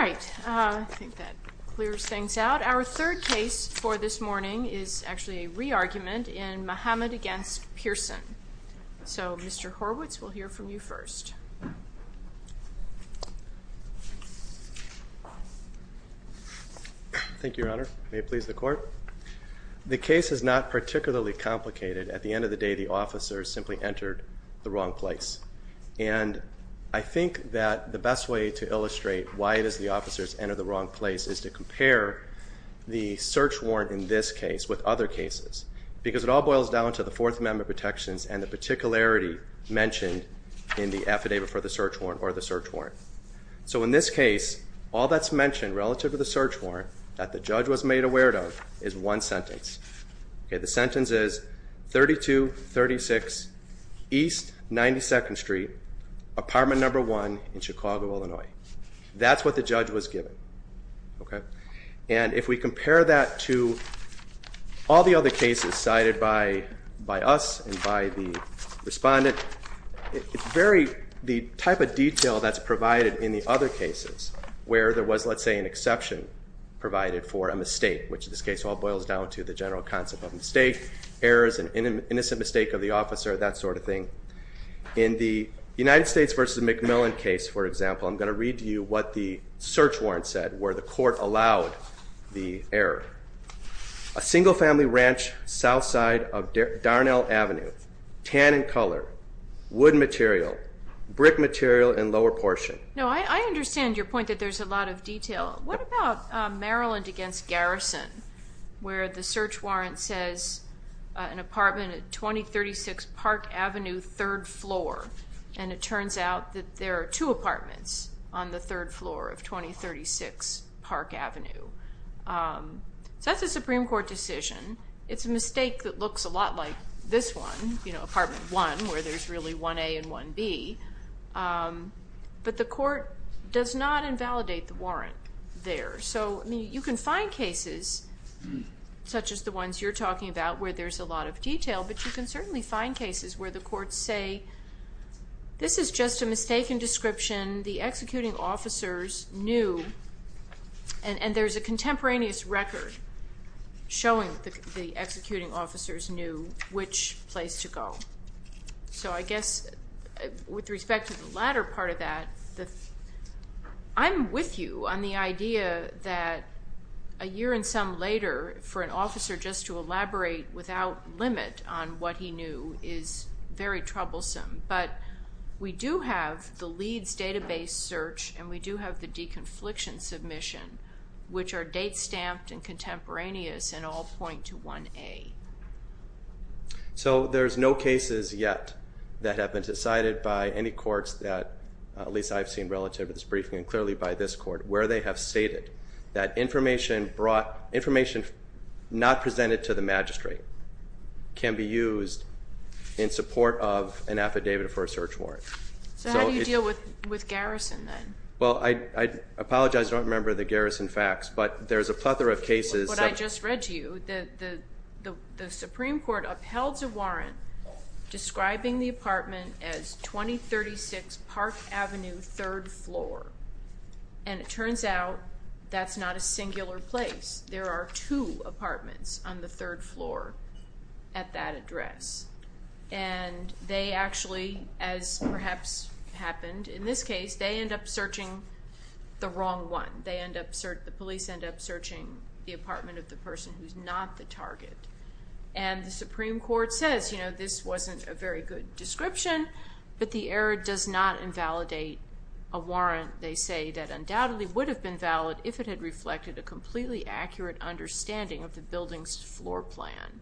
All right, I think that clears things out. Our third case for this morning is actually a re-argument in Muhammad v. Pearson. So, Mr. Horwitz, we'll hear from you first. Thank you, Your Honor. May it please the Court? The case is not particularly complicated. At the end of the day, the officer simply entered the wrong place. And I think that the best way to illustrate why it is the officers entered the wrong place is to compare the search warrant in this case with other cases. Because it all boils down to the Fourth Amendment protections and the particularity mentioned in the affidavit for the search warrant or the search warrant. So in this case, all that's mentioned relative to the search warrant that the judge was made aware of is one sentence. The sentence is 3236 East 92nd Street, apartment number 1 in Chicago, Illinois. That's what the judge was given. And if we compare that to all the other cases cited by us and by the respondent, the type of detail that's provided in the other cases where there was, let's say, an exception provided for a mistake, which in this case all boils down to the general concept of mistake, errors, an innocent mistake of the officer, that sort of thing. In the United States v. McMillan case, for example, I'm going to read to you what the search warrant said where the court allowed the error. A single-family ranch south side of Darnell Avenue, tan in color, wood material, brick material in lower portion. No, I understand your point that there's a lot of detail. What about Maryland v. Garrison where the search warrant says an apartment at 2036 Park Avenue, third floor, and it turns out that there are two apartments on the third floor of 2036 Park Avenue? So that's a Supreme Court decision. It's a mistake that looks a lot like this one, you know, apartment 1 where there's really 1A and 1B. But the court does not invalidate the warrant there. So, I mean, you can find cases such as the ones you're talking about where there's a lot of detail, but you can certainly find cases where the courts say this is just a mistaken description. The executing officers knew, and there's a contemporaneous record showing the executing officers knew which place to go. So I guess with respect to the latter part of that, I'm with you on the idea that a year and some later, for an officer just to elaborate without limit on what he knew is very troublesome. But we do have the Leeds database search, and we do have the de-confliction submission, which are date-stamped and contemporaneous and all point to 1A. So there's no cases yet that have been decided by any courts that, at least I've seen relative to this briefing, and clearly by this court, where they have stated that information brought, So how do you deal with Garrison then? Well, I apologize, I don't remember the Garrison facts, but there's a plethora of cases. What I just read to you, the Supreme Court uphelds a warrant describing the apartment as 2036 Park Avenue, third floor. And it turns out that's not a singular place. There are two apartments on the third floor at that address. And they actually, as perhaps happened in this case, they end up searching the wrong one. The police end up searching the apartment of the person who's not the target. And the Supreme Court says, you know, this wasn't a very good description, but the error does not invalidate a warrant. They say that undoubtedly would have been valid if it had reflected a completely accurate understanding of the building's floor plan.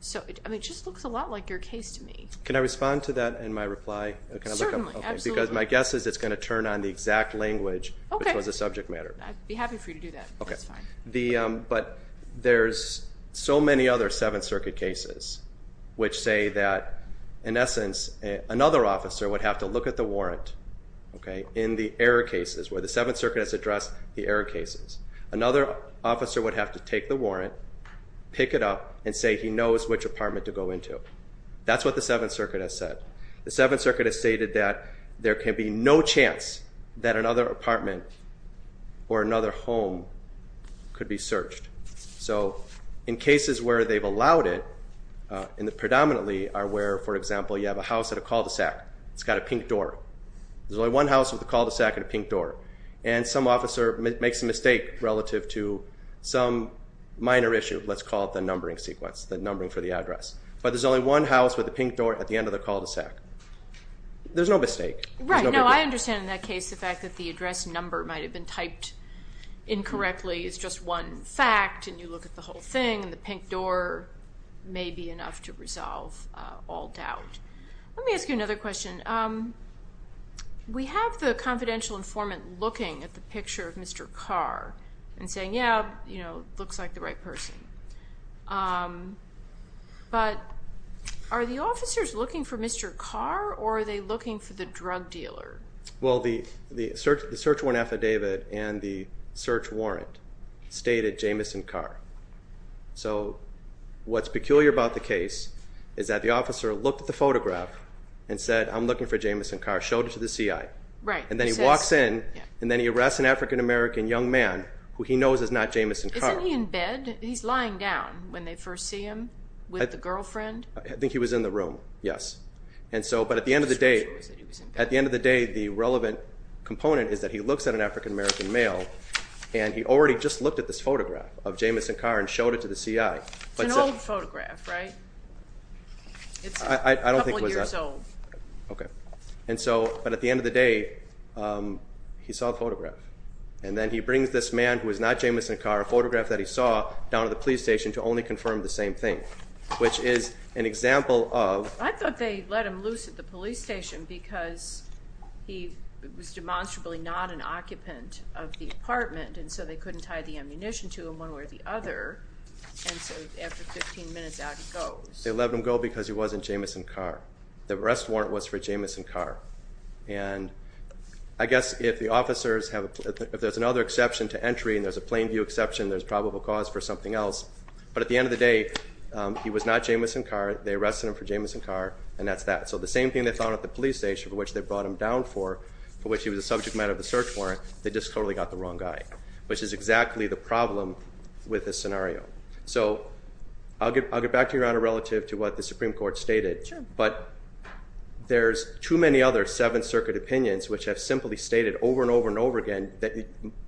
So, I mean, it just looks a lot like your case to me. Can I respond to that in my reply? Certainly, absolutely. Because my guess is it's going to turn on the exact language, which was the subject matter. I'd be happy for you to do that, that's fine. But there's so many other Seventh Circuit cases which say that, in essence, another officer would have to look at the warrant in the error cases, where the Seventh Circuit has addressed the error cases. Another officer would have to take the warrant, pick it up, and say he knows which apartment to go into. That's what the Seventh Circuit has said. The Seventh Circuit has stated that there can be no chance that another apartment or another home could be searched. So, in cases where they've allowed it, and predominantly are where, for example, you have a house with a cul-de-sac. It's got a pink door. There's only one house with a cul-de-sac and a pink door. And some officer makes a mistake relative to some minor issue. Let's call it the numbering sequence, the numbering for the address. But there's only one house with a pink door at the end of the cul-de-sac. There's no mistake. Right. No, I understand in that case the fact that the address number might have been typed incorrectly. It's just one fact, and you look at the whole thing, and the pink door may be enough to resolve all doubt. Let me ask you another question. We have the confidential informant looking at the picture of Mr. Carr and saying, yeah, looks like the right person. But are the officers looking for Mr. Carr, or are they looking for the drug dealer? Well, the search warrant affidavit and the search warrant state that Jameson Carr. So what's peculiar about the case is that the officer looked at the photograph and said, I'm looking for Jameson Carr, showed it to the CI. Right. And then he walks in, and then he arrests an African-American young man who he knows is not Jameson Carr. Isn't he in bed? He's lying down when they first see him with the girlfriend. I think he was in the room, yes. But at the end of the day, the relevant component is that he looks at an African-American male, and he already just looked at this photograph of Jameson Carr and showed it to the CI. It's an old photograph, right? I don't think it was that. It's a couple years old. Okay. And so, but at the end of the day, he saw the photograph. And then he brings this man who is not Jameson Carr, a photograph that he saw, down to the police station to only confirm the same thing, which is an example of. I thought they let him loose at the police station because he was demonstrably not an occupant of the apartment, and so they couldn't tie the ammunition to him one way or the other, and so after 15 minutes, out he goes. They let him go because he wasn't Jameson Carr. The arrest warrant was for Jameson Carr. And I guess if the officers have, if there's another exception to entry, and there's a plain view exception, there's probable cause for something else. But at the end of the day, he was not Jameson Carr. They arrested him for Jameson Carr, and that's that. So the same thing they found at the police station for which they brought him down for, for which he was a subject matter of the search warrant, they just totally got the wrong guy, which is exactly the problem with this scenario. So I'll get back to you, Rhonda, relative to what the Supreme Court stated. Sure. But there's too many other Seventh Circuit opinions which have simply stated over and over and over again that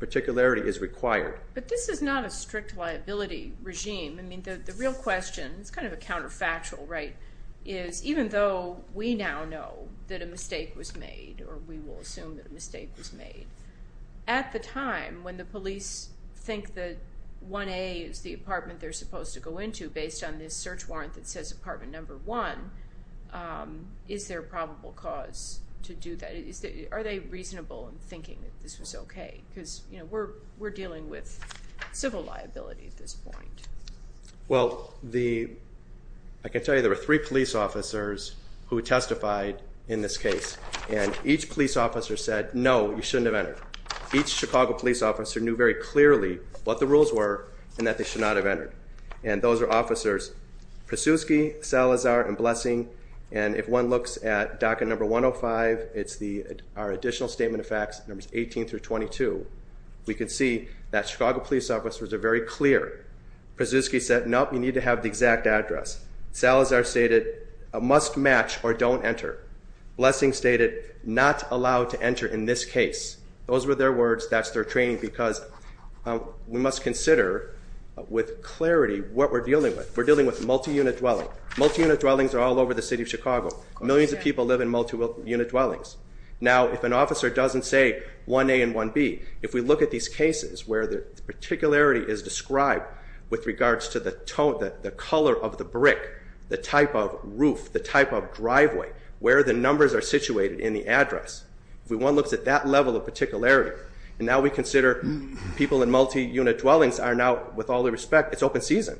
particularity is required. But this is not a strict liability regime. I mean, the real question, it's kind of a counterfactual, right, is even though we now know that a mistake was made, or we will assume that a mistake was made, at the time when the police think that 1A is the apartment they're supposed to go into based on this search warrant that says apartment number one, is there a probable cause to do that? Are they reasonable in thinking that this was okay? Because, you know, we're dealing with civil liability at this point. Well, I can tell you there were three police officers who testified in this case, and each police officer said, no, you shouldn't have entered. Each Chicago police officer knew very clearly what the rules were and that they should not have entered. And those are officers Pruszewski, Salazar, and Blessing. And if one looks at docket number 105, it's our additional statement of facts, numbers 18 through 22, we can see that Chicago police officers are very clear. Pruszewski said, no, you need to have the exact address. Salazar stated, must match or don't enter. Blessing stated, not allowed to enter in this case. Those were their words. That's their training because we must consider with clarity what we're dealing with. We're dealing with multi-unit dwelling. Multi-unit dwellings are all over the city of Chicago. Millions of people live in multi-unit dwellings. Now, if an officer doesn't say 1A and 1B, if we look at these cases where the particularity is described with regards to the tone, the color of the brick, the type of roof, the type of driveway, where the numbers are situated in the address, if one looks at that level of particularity, and now we consider people in multi-unit dwellings are now, with all due respect, it's open season.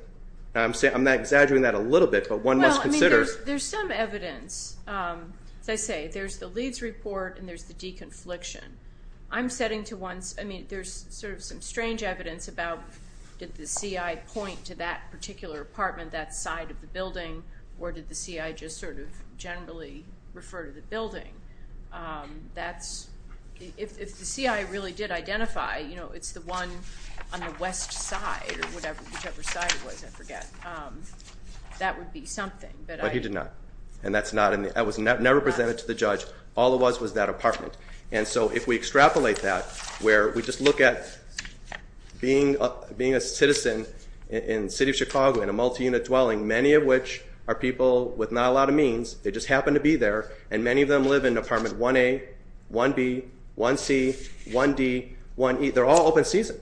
I'm exaggerating that a little bit, but one must consider. Well, I mean, there's some evidence. As I say, there's the Leeds report and there's the deconfliction. I'm setting to one, I mean, there's sort of some strange evidence about, did the CI point to that particular apartment, that side of the building, or did the CI just sort of generally refer to the building? If the CI really did identify, you know, it's the one on the west side, or whichever side it was, I forget, that would be something. But he did not, and that was never presented to the judge. All it was was that apartment. And so if we extrapolate that, where we just look at being a citizen in the city of Chicago in a multi-unit dwelling, many of which are people with not a lot of means, they just happen to be there, and many of them live in apartment 1A, 1B, 1C, 1D, 1E. They're all open season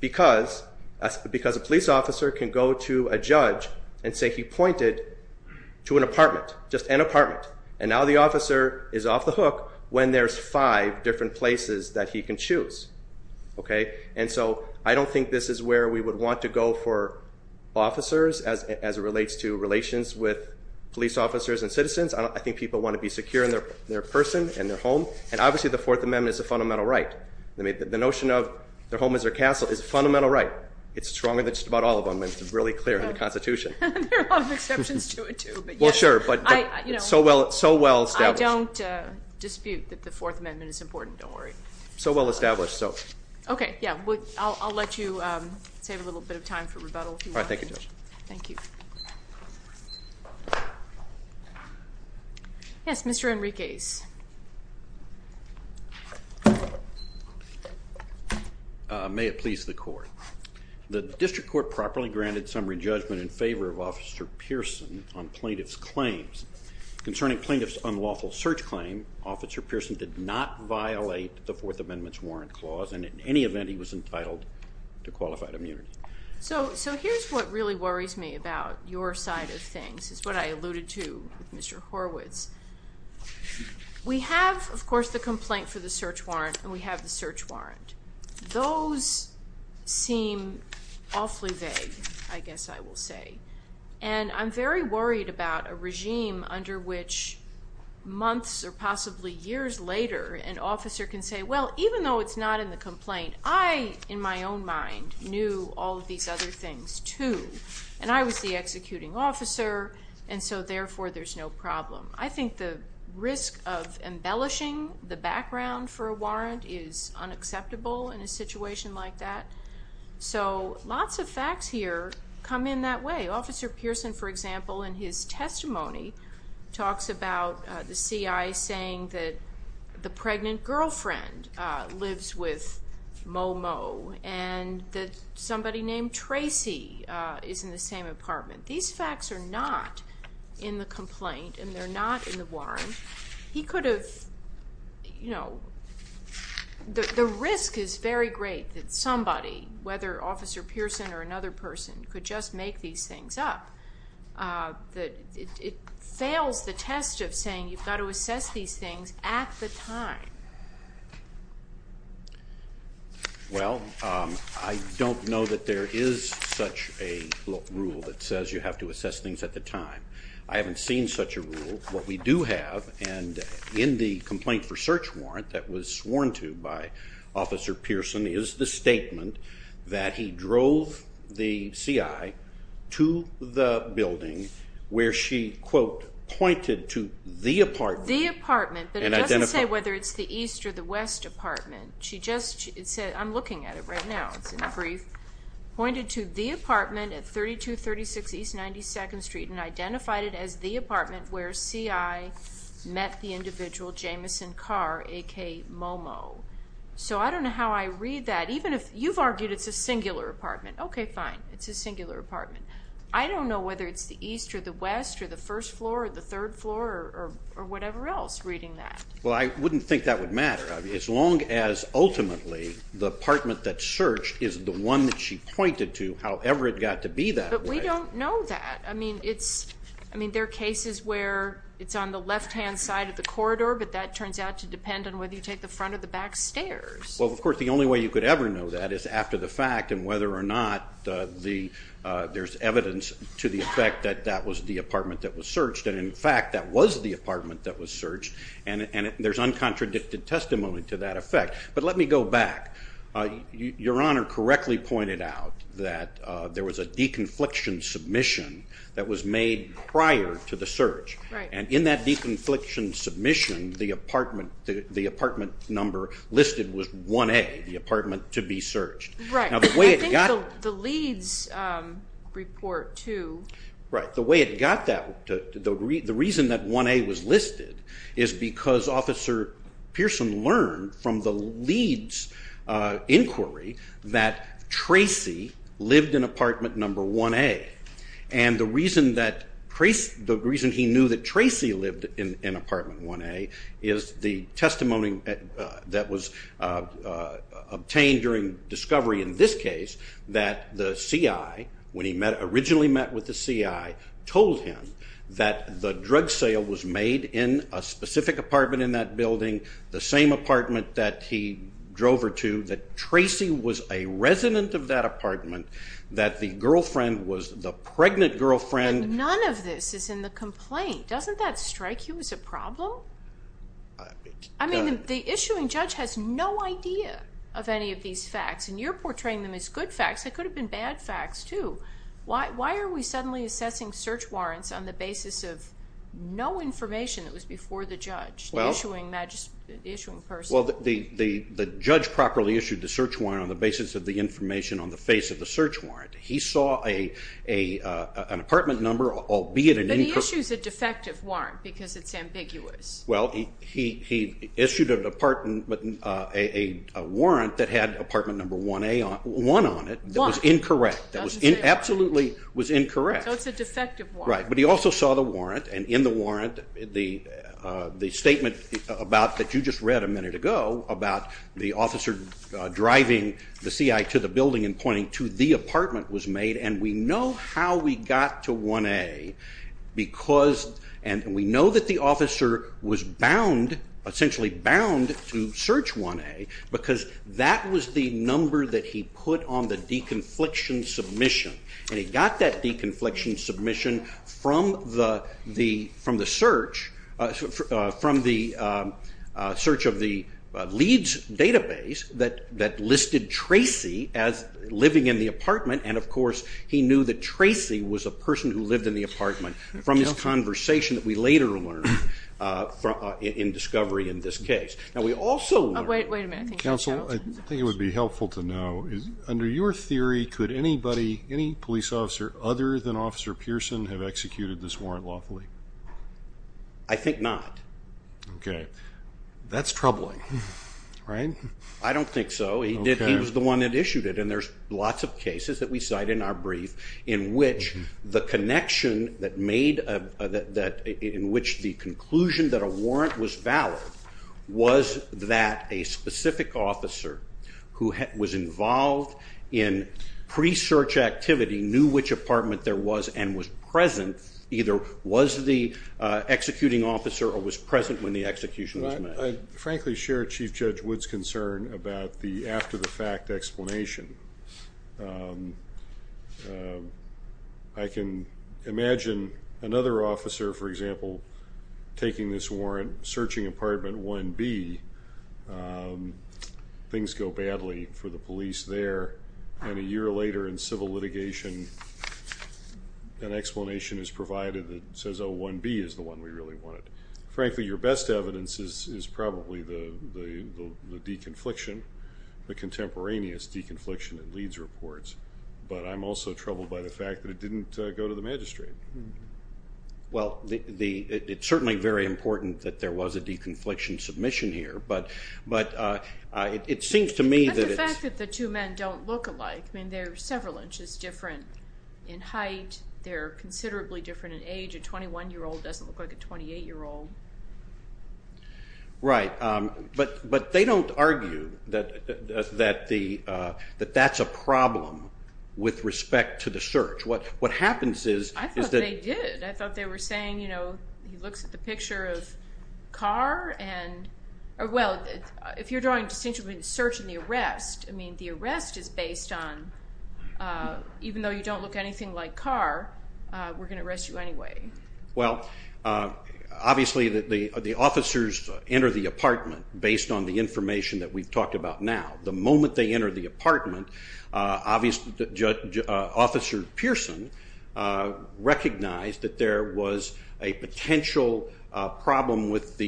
because a police officer can go to a judge and say he pointed to an apartment, just an apartment, and now the officer is off the hook when there's five different places that he can choose. And so I don't think this is where we would want to go for officers as it relates to relations with police officers and citizens. I think people want to be secure in their person, in their home. And obviously the Fourth Amendment is a fundamental right. The notion of their home is their castle is a fundamental right. It's stronger than just about all of them. It's really clear in the Constitution. There are exceptions to it too. Well, sure, but so well established. I don't dispute that the Fourth Amendment is important. Don't worry. So well established. Okay, yeah, I'll let you save a little bit of time for rebuttal if you want. All right, thank you, Judge. Thank you. Yes, Mr. Enriquez. May it please the Court. The District Court properly granted summary judgment in favor of Officer Pearson on plaintiff's claims. Concerning plaintiff's unlawful search claim, Officer Pearson did not violate the Fourth Amendment's warrant clause, and in any event he was entitled to qualified immunity. So here's what really worries me about your side of things. It's what I alluded to with Mr. Horwitz. We have, of course, the complaint for the search warrant, and we have the search warrant. Those seem awfully vague, I guess I will say. And I'm very worried about a regime under which months or possibly years later an officer can say, well, even though it's not in the complaint, I, in my own mind, knew all of these other things too, and I was the executing officer, and so therefore there's no problem. I think the risk of embellishing the background for a warrant is unacceptable in a situation like that. So lots of facts here come in that way. Officer Pearson, for example, in his testimony talks about the CI saying that the pregnant girlfriend lives with Momo and that somebody named Tracy is in the same apartment. These facts are not in the complaint and they're not in the warrant. He could have, you know, the risk is very great that somebody, whether Officer Pearson or another person, could just make these things up. It fails the test of saying you've got to assess these things at the time. Well, I don't know that there is such a rule that says you have to assess things at the time. And in the complaint for search warrant that was sworn to by Officer Pearson is the statement that he drove the CI to the building where she, quote, pointed to the apartment. The apartment, but it doesn't say whether it's the east or the west apartment. She just said, I'm looking at it right now, it's in the brief, pointed to the apartment at 3236 East 92nd Street and identified it as the apartment where CI met the individual Jameson Carr, a.k.a. Momo. So I don't know how I read that. Even if you've argued it's a singular apartment, okay, fine, it's a singular apartment. I don't know whether it's the east or the west or the first floor or the third floor or whatever else reading that. Well, I wouldn't think that would matter. As long as ultimately the apartment that's searched is the one that she pointed to, however it got to be that way. But we don't know that. I mean, there are cases where it's on the left-hand side of the corridor, but that turns out to depend on whether you take the front or the back stairs. Well, of course, the only way you could ever know that is after the fact and whether or not there's evidence to the effect that that was the apartment that was searched. And, in fact, that was the apartment that was searched, and there's uncontradicted testimony to that effect. But let me go back. Your Honor correctly pointed out that there was a de-confliction submission that was made prior to the search. Right. And in that de-confliction submission, the apartment number listed was 1A, the apartment to be searched. Right. Now, the way it got- I think the Leeds report, too. Right. The way it got that, the reason that 1A was listed is because Officer Pearson learned from the Leeds inquiry that Tracy lived in apartment number 1A. And the reason he knew that Tracy lived in apartment 1A is the testimony that was obtained during discovery in this case that the CI, when he originally met with the CI, told him that the drug sale was made in a specific apartment in that building, the same apartment that he drove her to, that Tracy was a resident of that apartment, that the girlfriend was the pregnant girlfriend. And none of this is in the complaint. Doesn't that strike you as a problem? It does. The issuing judge has no idea of any of these facts, and you're portraying them as good facts. They could have been bad facts, too. Why are we suddenly assessing search warrants on the basis of no information that was before the judge, the issuing person? Well, the judge properly issued the search warrant on the basis of the information on the face of the search warrant. He saw an apartment number, albeit an incorrect- But he issues a defective warrant because it's ambiguous. Well, he issued a warrant that had apartment number 1A on it, 1 on it, that was incorrect. That was absolutely incorrect. So it's a defective warrant. Right, but he also saw the warrant, and in the warrant, the statement about, that you just read a minute ago, about the officer driving the CI to the building and pointing to the apartment was made, and we know how we got to 1A, and we know that the officer was bound, essentially bound, to search 1A, because that was the number that he put on the de-confliction submission, and he got that de-confliction submission from the search of the Leeds database that listed Tracy as living in the apartment, and, of course, he knew that Tracy was a person who lived in the apartment from this conversation that we later learned in discovery in this case. Now, we also learned- Wait a minute. Counsel, I think it would be helpful to know, under your theory, could anybody, any police officer other than Officer Pearson, have executed this warrant lawfully? I think not. Okay. That's troubling, right? I don't think so. He was the one that issued it, and there's lots of cases that we cite in our brief in which the connection that made, in which the conclusion that a warrant was valid was that a specific officer who was involved in pre-search activity knew which apartment there was and was present, either was the executing officer or was present when the execution was made. I frankly share Chief Judge Wood's concern about the after-the-fact explanation. I can imagine another officer, for example, taking this warrant, searching apartment 1B, things go badly for the police there, and a year later in civil litigation, an explanation is provided that says, oh, 1B is the one we really wanted. Frankly, your best evidence is probably the deconfliction, the contemporaneous deconfliction in Leeds reports, but I'm also troubled by the fact that it didn't go to the magistrate. Well, it's certainly very important that there was a deconfliction submission here, but it seems to me that it's... That's the fact that the two men don't look alike. I mean, they're several inches different in height. They're considerably different in age. A 21-year-old doesn't look like a 28-year-old. Right, but they don't argue that that's a problem with respect to the search. What happens is that... I thought they did. I thought they were saying, you know, he looks at the picture of Carr and... Well, if you're drawing a distinction between the search and the arrest, I mean, the arrest is based on, even though you don't look anything like Carr, we're going to arrest you anyway. Well, obviously the officers enter the apartment based on the information that we've talked about now. The moment they enter the apartment, obviously Officer Pearson recognized that there was a potential problem with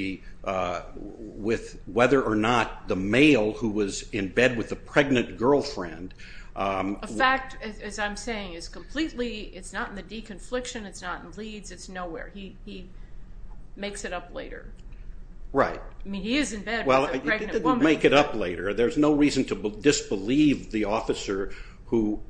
whether or not the male who was in bed with the pregnant girlfriend... A fact, as I'm saying, is completely... It's not in the deconfliction, it's not in Leeds, it's nowhere. He makes it up later. Right. I mean, he is in bed with a pregnant woman. He didn't make it up later. There's no reason to disbelieve the officer who's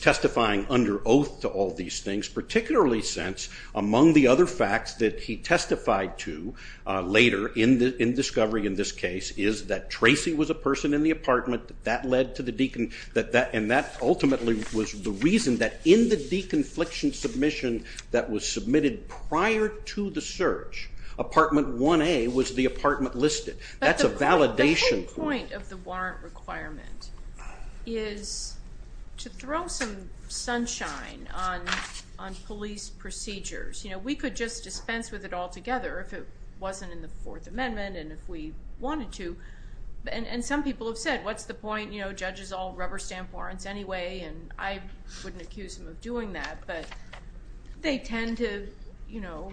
testifying under oath to all these things, particularly since among the other facts that he testified to later in discovery in this case is that Tracy was a person in the apartment, and that ultimately was the reason that in the deconfliction submission that was submitted prior to the search, apartment 1A was the apartment listed. That's a validation point. But the whole point of the warrant requirement is to throw some sunshine on police procedures. You know, we could just dispense with it altogether if it wasn't in the Fourth Amendment, and if we wanted to. And some people have said, what's the point? You know, judges all rubber stamp warrants anyway, and I wouldn't accuse them of doing that. But they tend to, you know,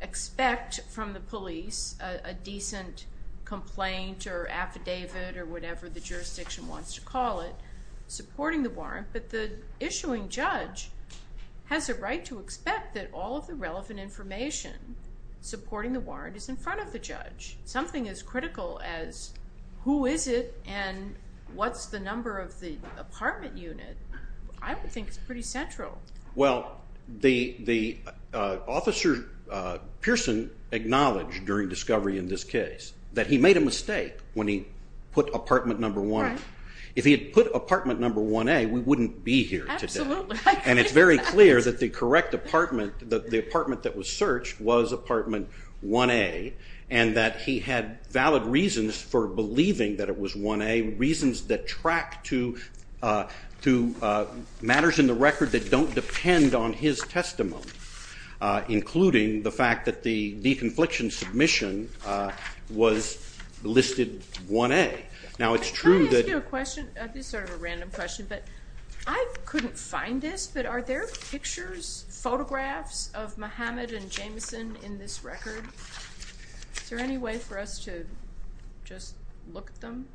expect from the police a decent complaint or affidavit or whatever the jurisdiction wants to call it, supporting the warrant. But the issuing judge has a right to expect that all of the relevant information supporting the warrant is in front of the judge. Something as critical as who is it and what's the number of the apartment unit, I would think is pretty central. Well, the officer, Pearson, acknowledged during discovery in this case that he made a mistake when he put apartment number 1A. If he had put apartment number 1A, we wouldn't be here today. Absolutely. And it's very clear that the correct apartment, the apartment that was searched, was apartment 1A and that he had valid reasons for believing that it was 1A, reasons that track to matters in the record that don't depend on his testimony, including the fact that the de-confliction submission was listed 1A. Can I ask you a question? This is sort of a random question, but I couldn't find this, but are there pictures, photographs of Muhammad and Jameson in this record? Is there any way for us to just look at them?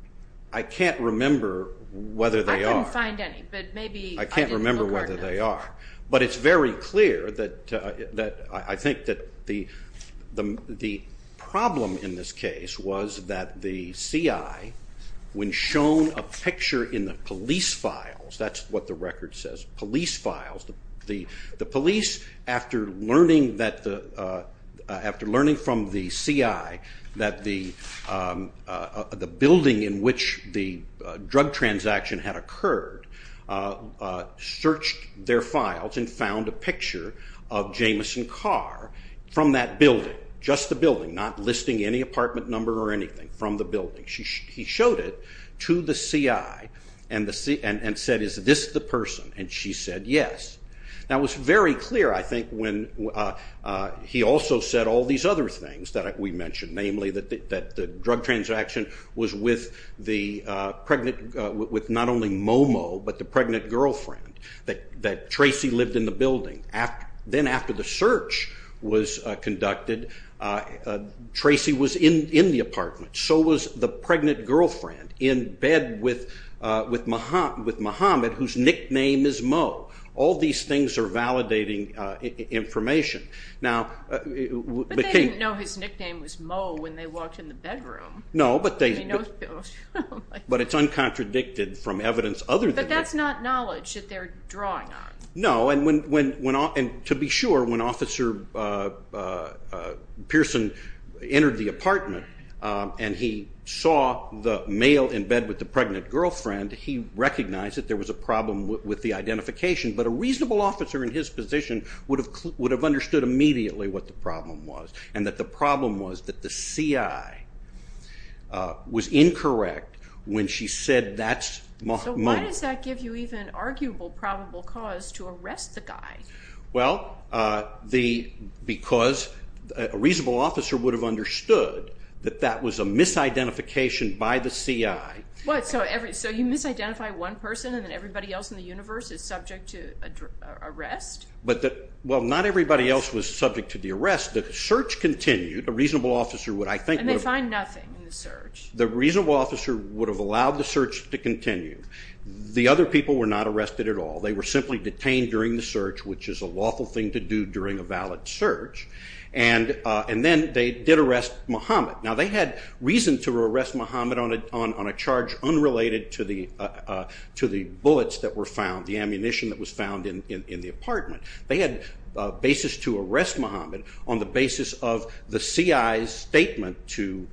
I can't remember whether they are. I couldn't find any, but maybe I didn't look hard enough. I can't remember whether they are. But it's very clear that I think that the problem in this case was that the CI, when shown a picture in the police files, that's what the record says, police files, the police, after learning from the CI that the building in which the drug transaction had occurred, searched their files and found a picture of Jameson Carr from that building, just the building, not listing any apartment number or anything, from the building. He showed it to the CI and said, is this the person? And she said yes. That was very clear, I think, when he also said all these other things that we mentioned, namely that the drug transaction was with not only Mo Mo, but the pregnant girlfriend, that Tracy lived in the building. Then after the search was conducted, Tracy was in the apartment. So was the pregnant girlfriend in bed with Muhammad, whose nickname is Mo. All these things are validating information. But they didn't know his nickname was Mo when they walked in the bedroom. No, but it's uncontradicted from evidence other than that. But that's not knowledge that they're drawing on. No, and to be sure, when Officer Pearson entered the apartment and he saw the male in bed with the pregnant girlfriend, he recognized that there was a problem with the identification. But a reasonable officer in his position would have understood immediately what the problem was and that the problem was that the CI was incorrect when she said that's Mo. So why does that give you even arguable probable cause to arrest the guy? Well, because a reasonable officer would have understood that that was a misidentification by the CI. So you misidentify one person and then everybody else in the universe is subject to arrest? Well, not everybody else was subject to the arrest. The search continued. And they find nothing in the search. The reasonable officer would have allowed the search to continue. The other people were not arrested at all. They were simply detained during the search, which is a lawful thing to do during a valid search. And then they did arrest Muhammad. Now, they had reason to arrest Muhammad on a charge unrelated to the bullets that were found, the ammunition that was found in the apartment. They had a basis to arrest Muhammad on the basis of the CI's statement to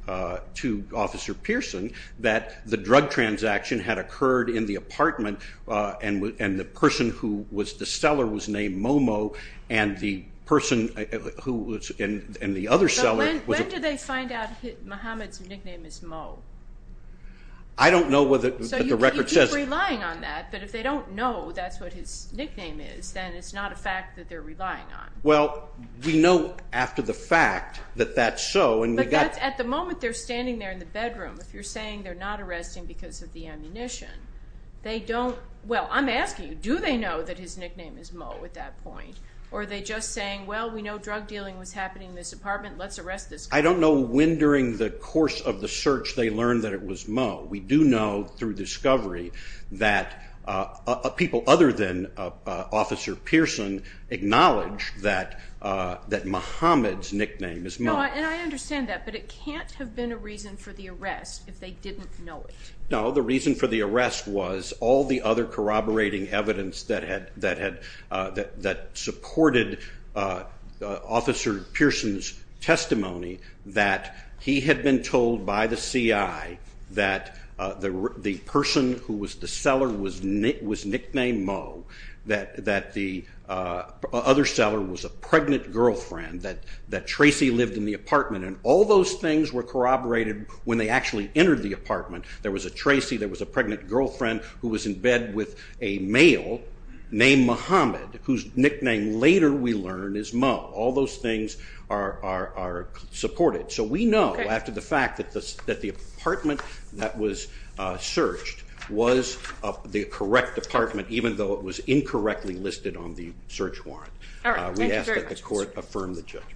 Officer Pearson that the drug transaction had occurred in the apartment and the person who was the seller was named Momo and the person who was in the other cell was a- When did they find out Muhammad's nickname is Mo? I don't know whether the record says- So you keep relying on that, but if they don't know that's what his nickname is, then it's not a fact that they're relying on. Well, we know after the fact that that's so and we got- But that's at the moment they're standing there in the bedroom. If you're saying they're not arresting because of the ammunition, they don't- Well, I'm asking you, do they know that his nickname is Mo at that point? Or are they just saying, well, we know drug dealing was happening in this apartment. Let's arrest this guy. I don't know when during the course of the search they learned that it was Mo. We do know through discovery that people other than Officer Pearson acknowledged that Muhammad's nickname is Mo. No, and I understand that, but it can't have been a reason for the arrest if they didn't know it. No, the reason for the arrest was all the other corroborating evidence that supported Officer Pearson's testimony that he had been told by the CI that the person who was the seller was nicknamed Mo, that the other seller was a pregnant girlfriend, that Tracy lived in the apartment, and all those things were corroborated when they actually entered the apartment. There was a Tracy, there was a pregnant girlfriend who was in bed with a male named Muhammad whose nickname later we learn is Mo. All those things are supported. So we know after the fact that the apartment that was searched was the correct apartment, even though it was incorrectly listed on the search warrant. We ask that the court affirm the judgment.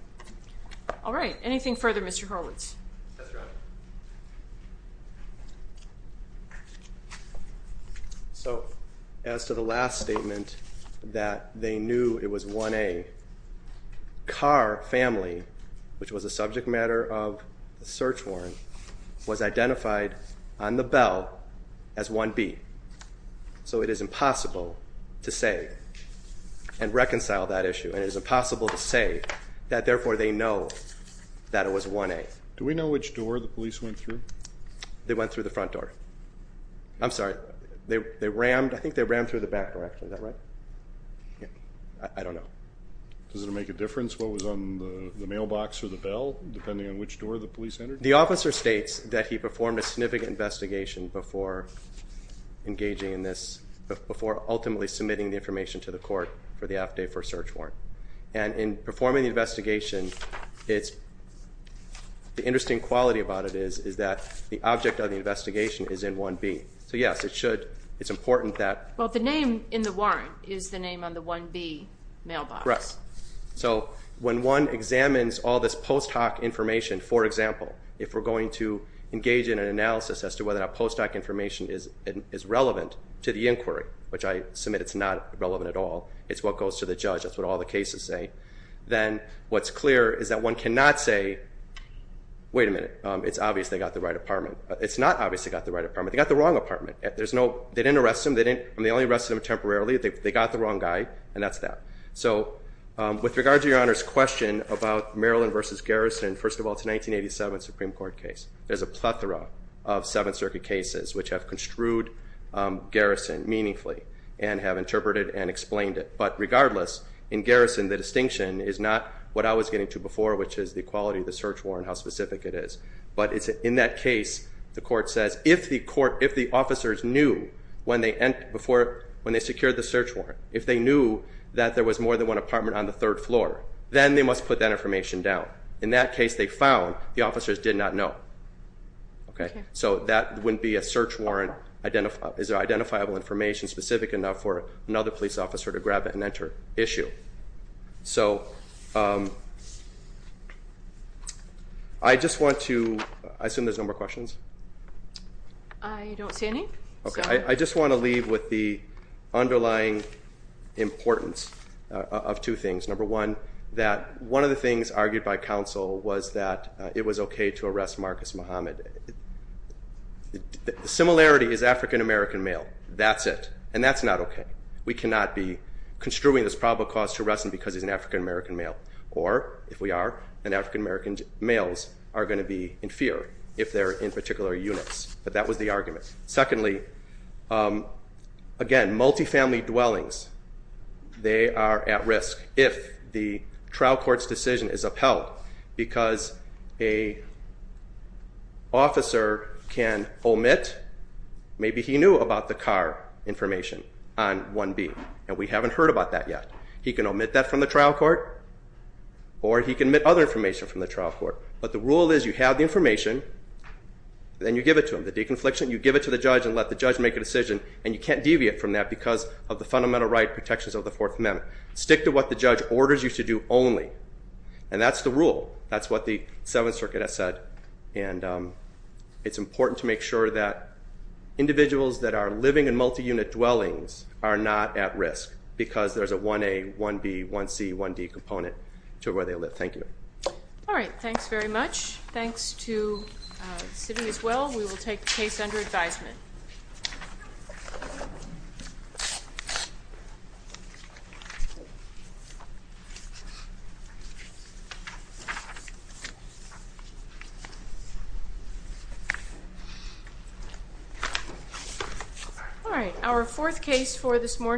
All right. Anything further, Mr. Horowitz? That's right. So as to the last statement that they knew it was 1A, Carr family, which was a subject matter of the search warrant, was identified on the bell as 1B. So it is impossible to say and reconcile that issue, and it is impossible to say that therefore they know that it was 1A. Do we know which door the police went through? They went through the front door. I'm sorry. They rammed, I think they rammed through the back door, actually. Is that right? I don't know. Does it make a difference what was on the mailbox or the bell, depending on which door the police entered? The officer states that he performed a significant investigation before engaging in this, before ultimately submitting the information to the court for the F-Day first search warrant. And in performing the investigation, the interesting quality about it is that the object of the investigation is in 1B. So, yes, it should. It's important that. Well, the name in the warrant is the name on the 1B mailbox. Correct. So when one examines all this post hoc information, for example, if we're going to engage in an analysis as to whether that post hoc information is relevant to the inquiry, which I submit it's not relevant at all, it's what goes to the judge, that's what all the cases say, then what's clear is that one cannot say, wait a minute, it's obvious they got the right apartment. It's not obvious they got the right apartment. They got the wrong apartment. They didn't arrest him. They only arrested him temporarily. They got the wrong guy, and that's that. So with regard to Your Honor's question about Maryland v. Garrison, first of all, it's a 1987 Supreme Court case. There's a plethora of Seventh Circuit cases which have construed Garrison meaningfully and have interpreted and explained it. But regardless, in Garrison the distinction is not what I was getting to before, which is the quality of the search warrant, how specific it is. But in that case the court says if the officers knew when they secured the search warrant, if they knew that there was more than one apartment on the third floor, then they must put that information down. In that case they found the officers did not know. So that wouldn't be a search warrant. Is there identifiable information specific enough for another police officer to grab it and enter? Issue. So I just want to, I assume there's no more questions? I don't see any. I just want to leave with the underlying importance of two things. Number one, that one of the things argued by counsel was that it was okay to arrest Marcus Muhammad. The similarity is African-American male. That's it. And that's not okay. We cannot be construing this probable cause to arrest him because he's an African-American male. Or, if we are, then African-American males are going to be in fear if they're in particular units. But that was the argument. Secondly, again, multifamily dwellings, they are at risk if the trial court's decision is upheld because an officer can omit, maybe he knew about the car information on 1B, and we haven't heard about that yet. He can omit that from the trial court, or he can omit other information from the trial court. But the rule is you have the information, then you give it to him. You have the deconfliction. You give it to the judge and let the judge make a decision, and you can't deviate from that because of the fundamental right protections of the Fourth Amendment. Stick to what the judge orders you to do only. And that's the rule. That's what the Seventh Circuit has said. And it's important to make sure that individuals that are living in multi-unit dwellings are not at risk because there's a 1A, 1B, 1C, 1D component to where they live. Thank you. All right. Thanks very much. Thanks to the city as well. We will take the case under advisement. All right. Our fourth case for this morning.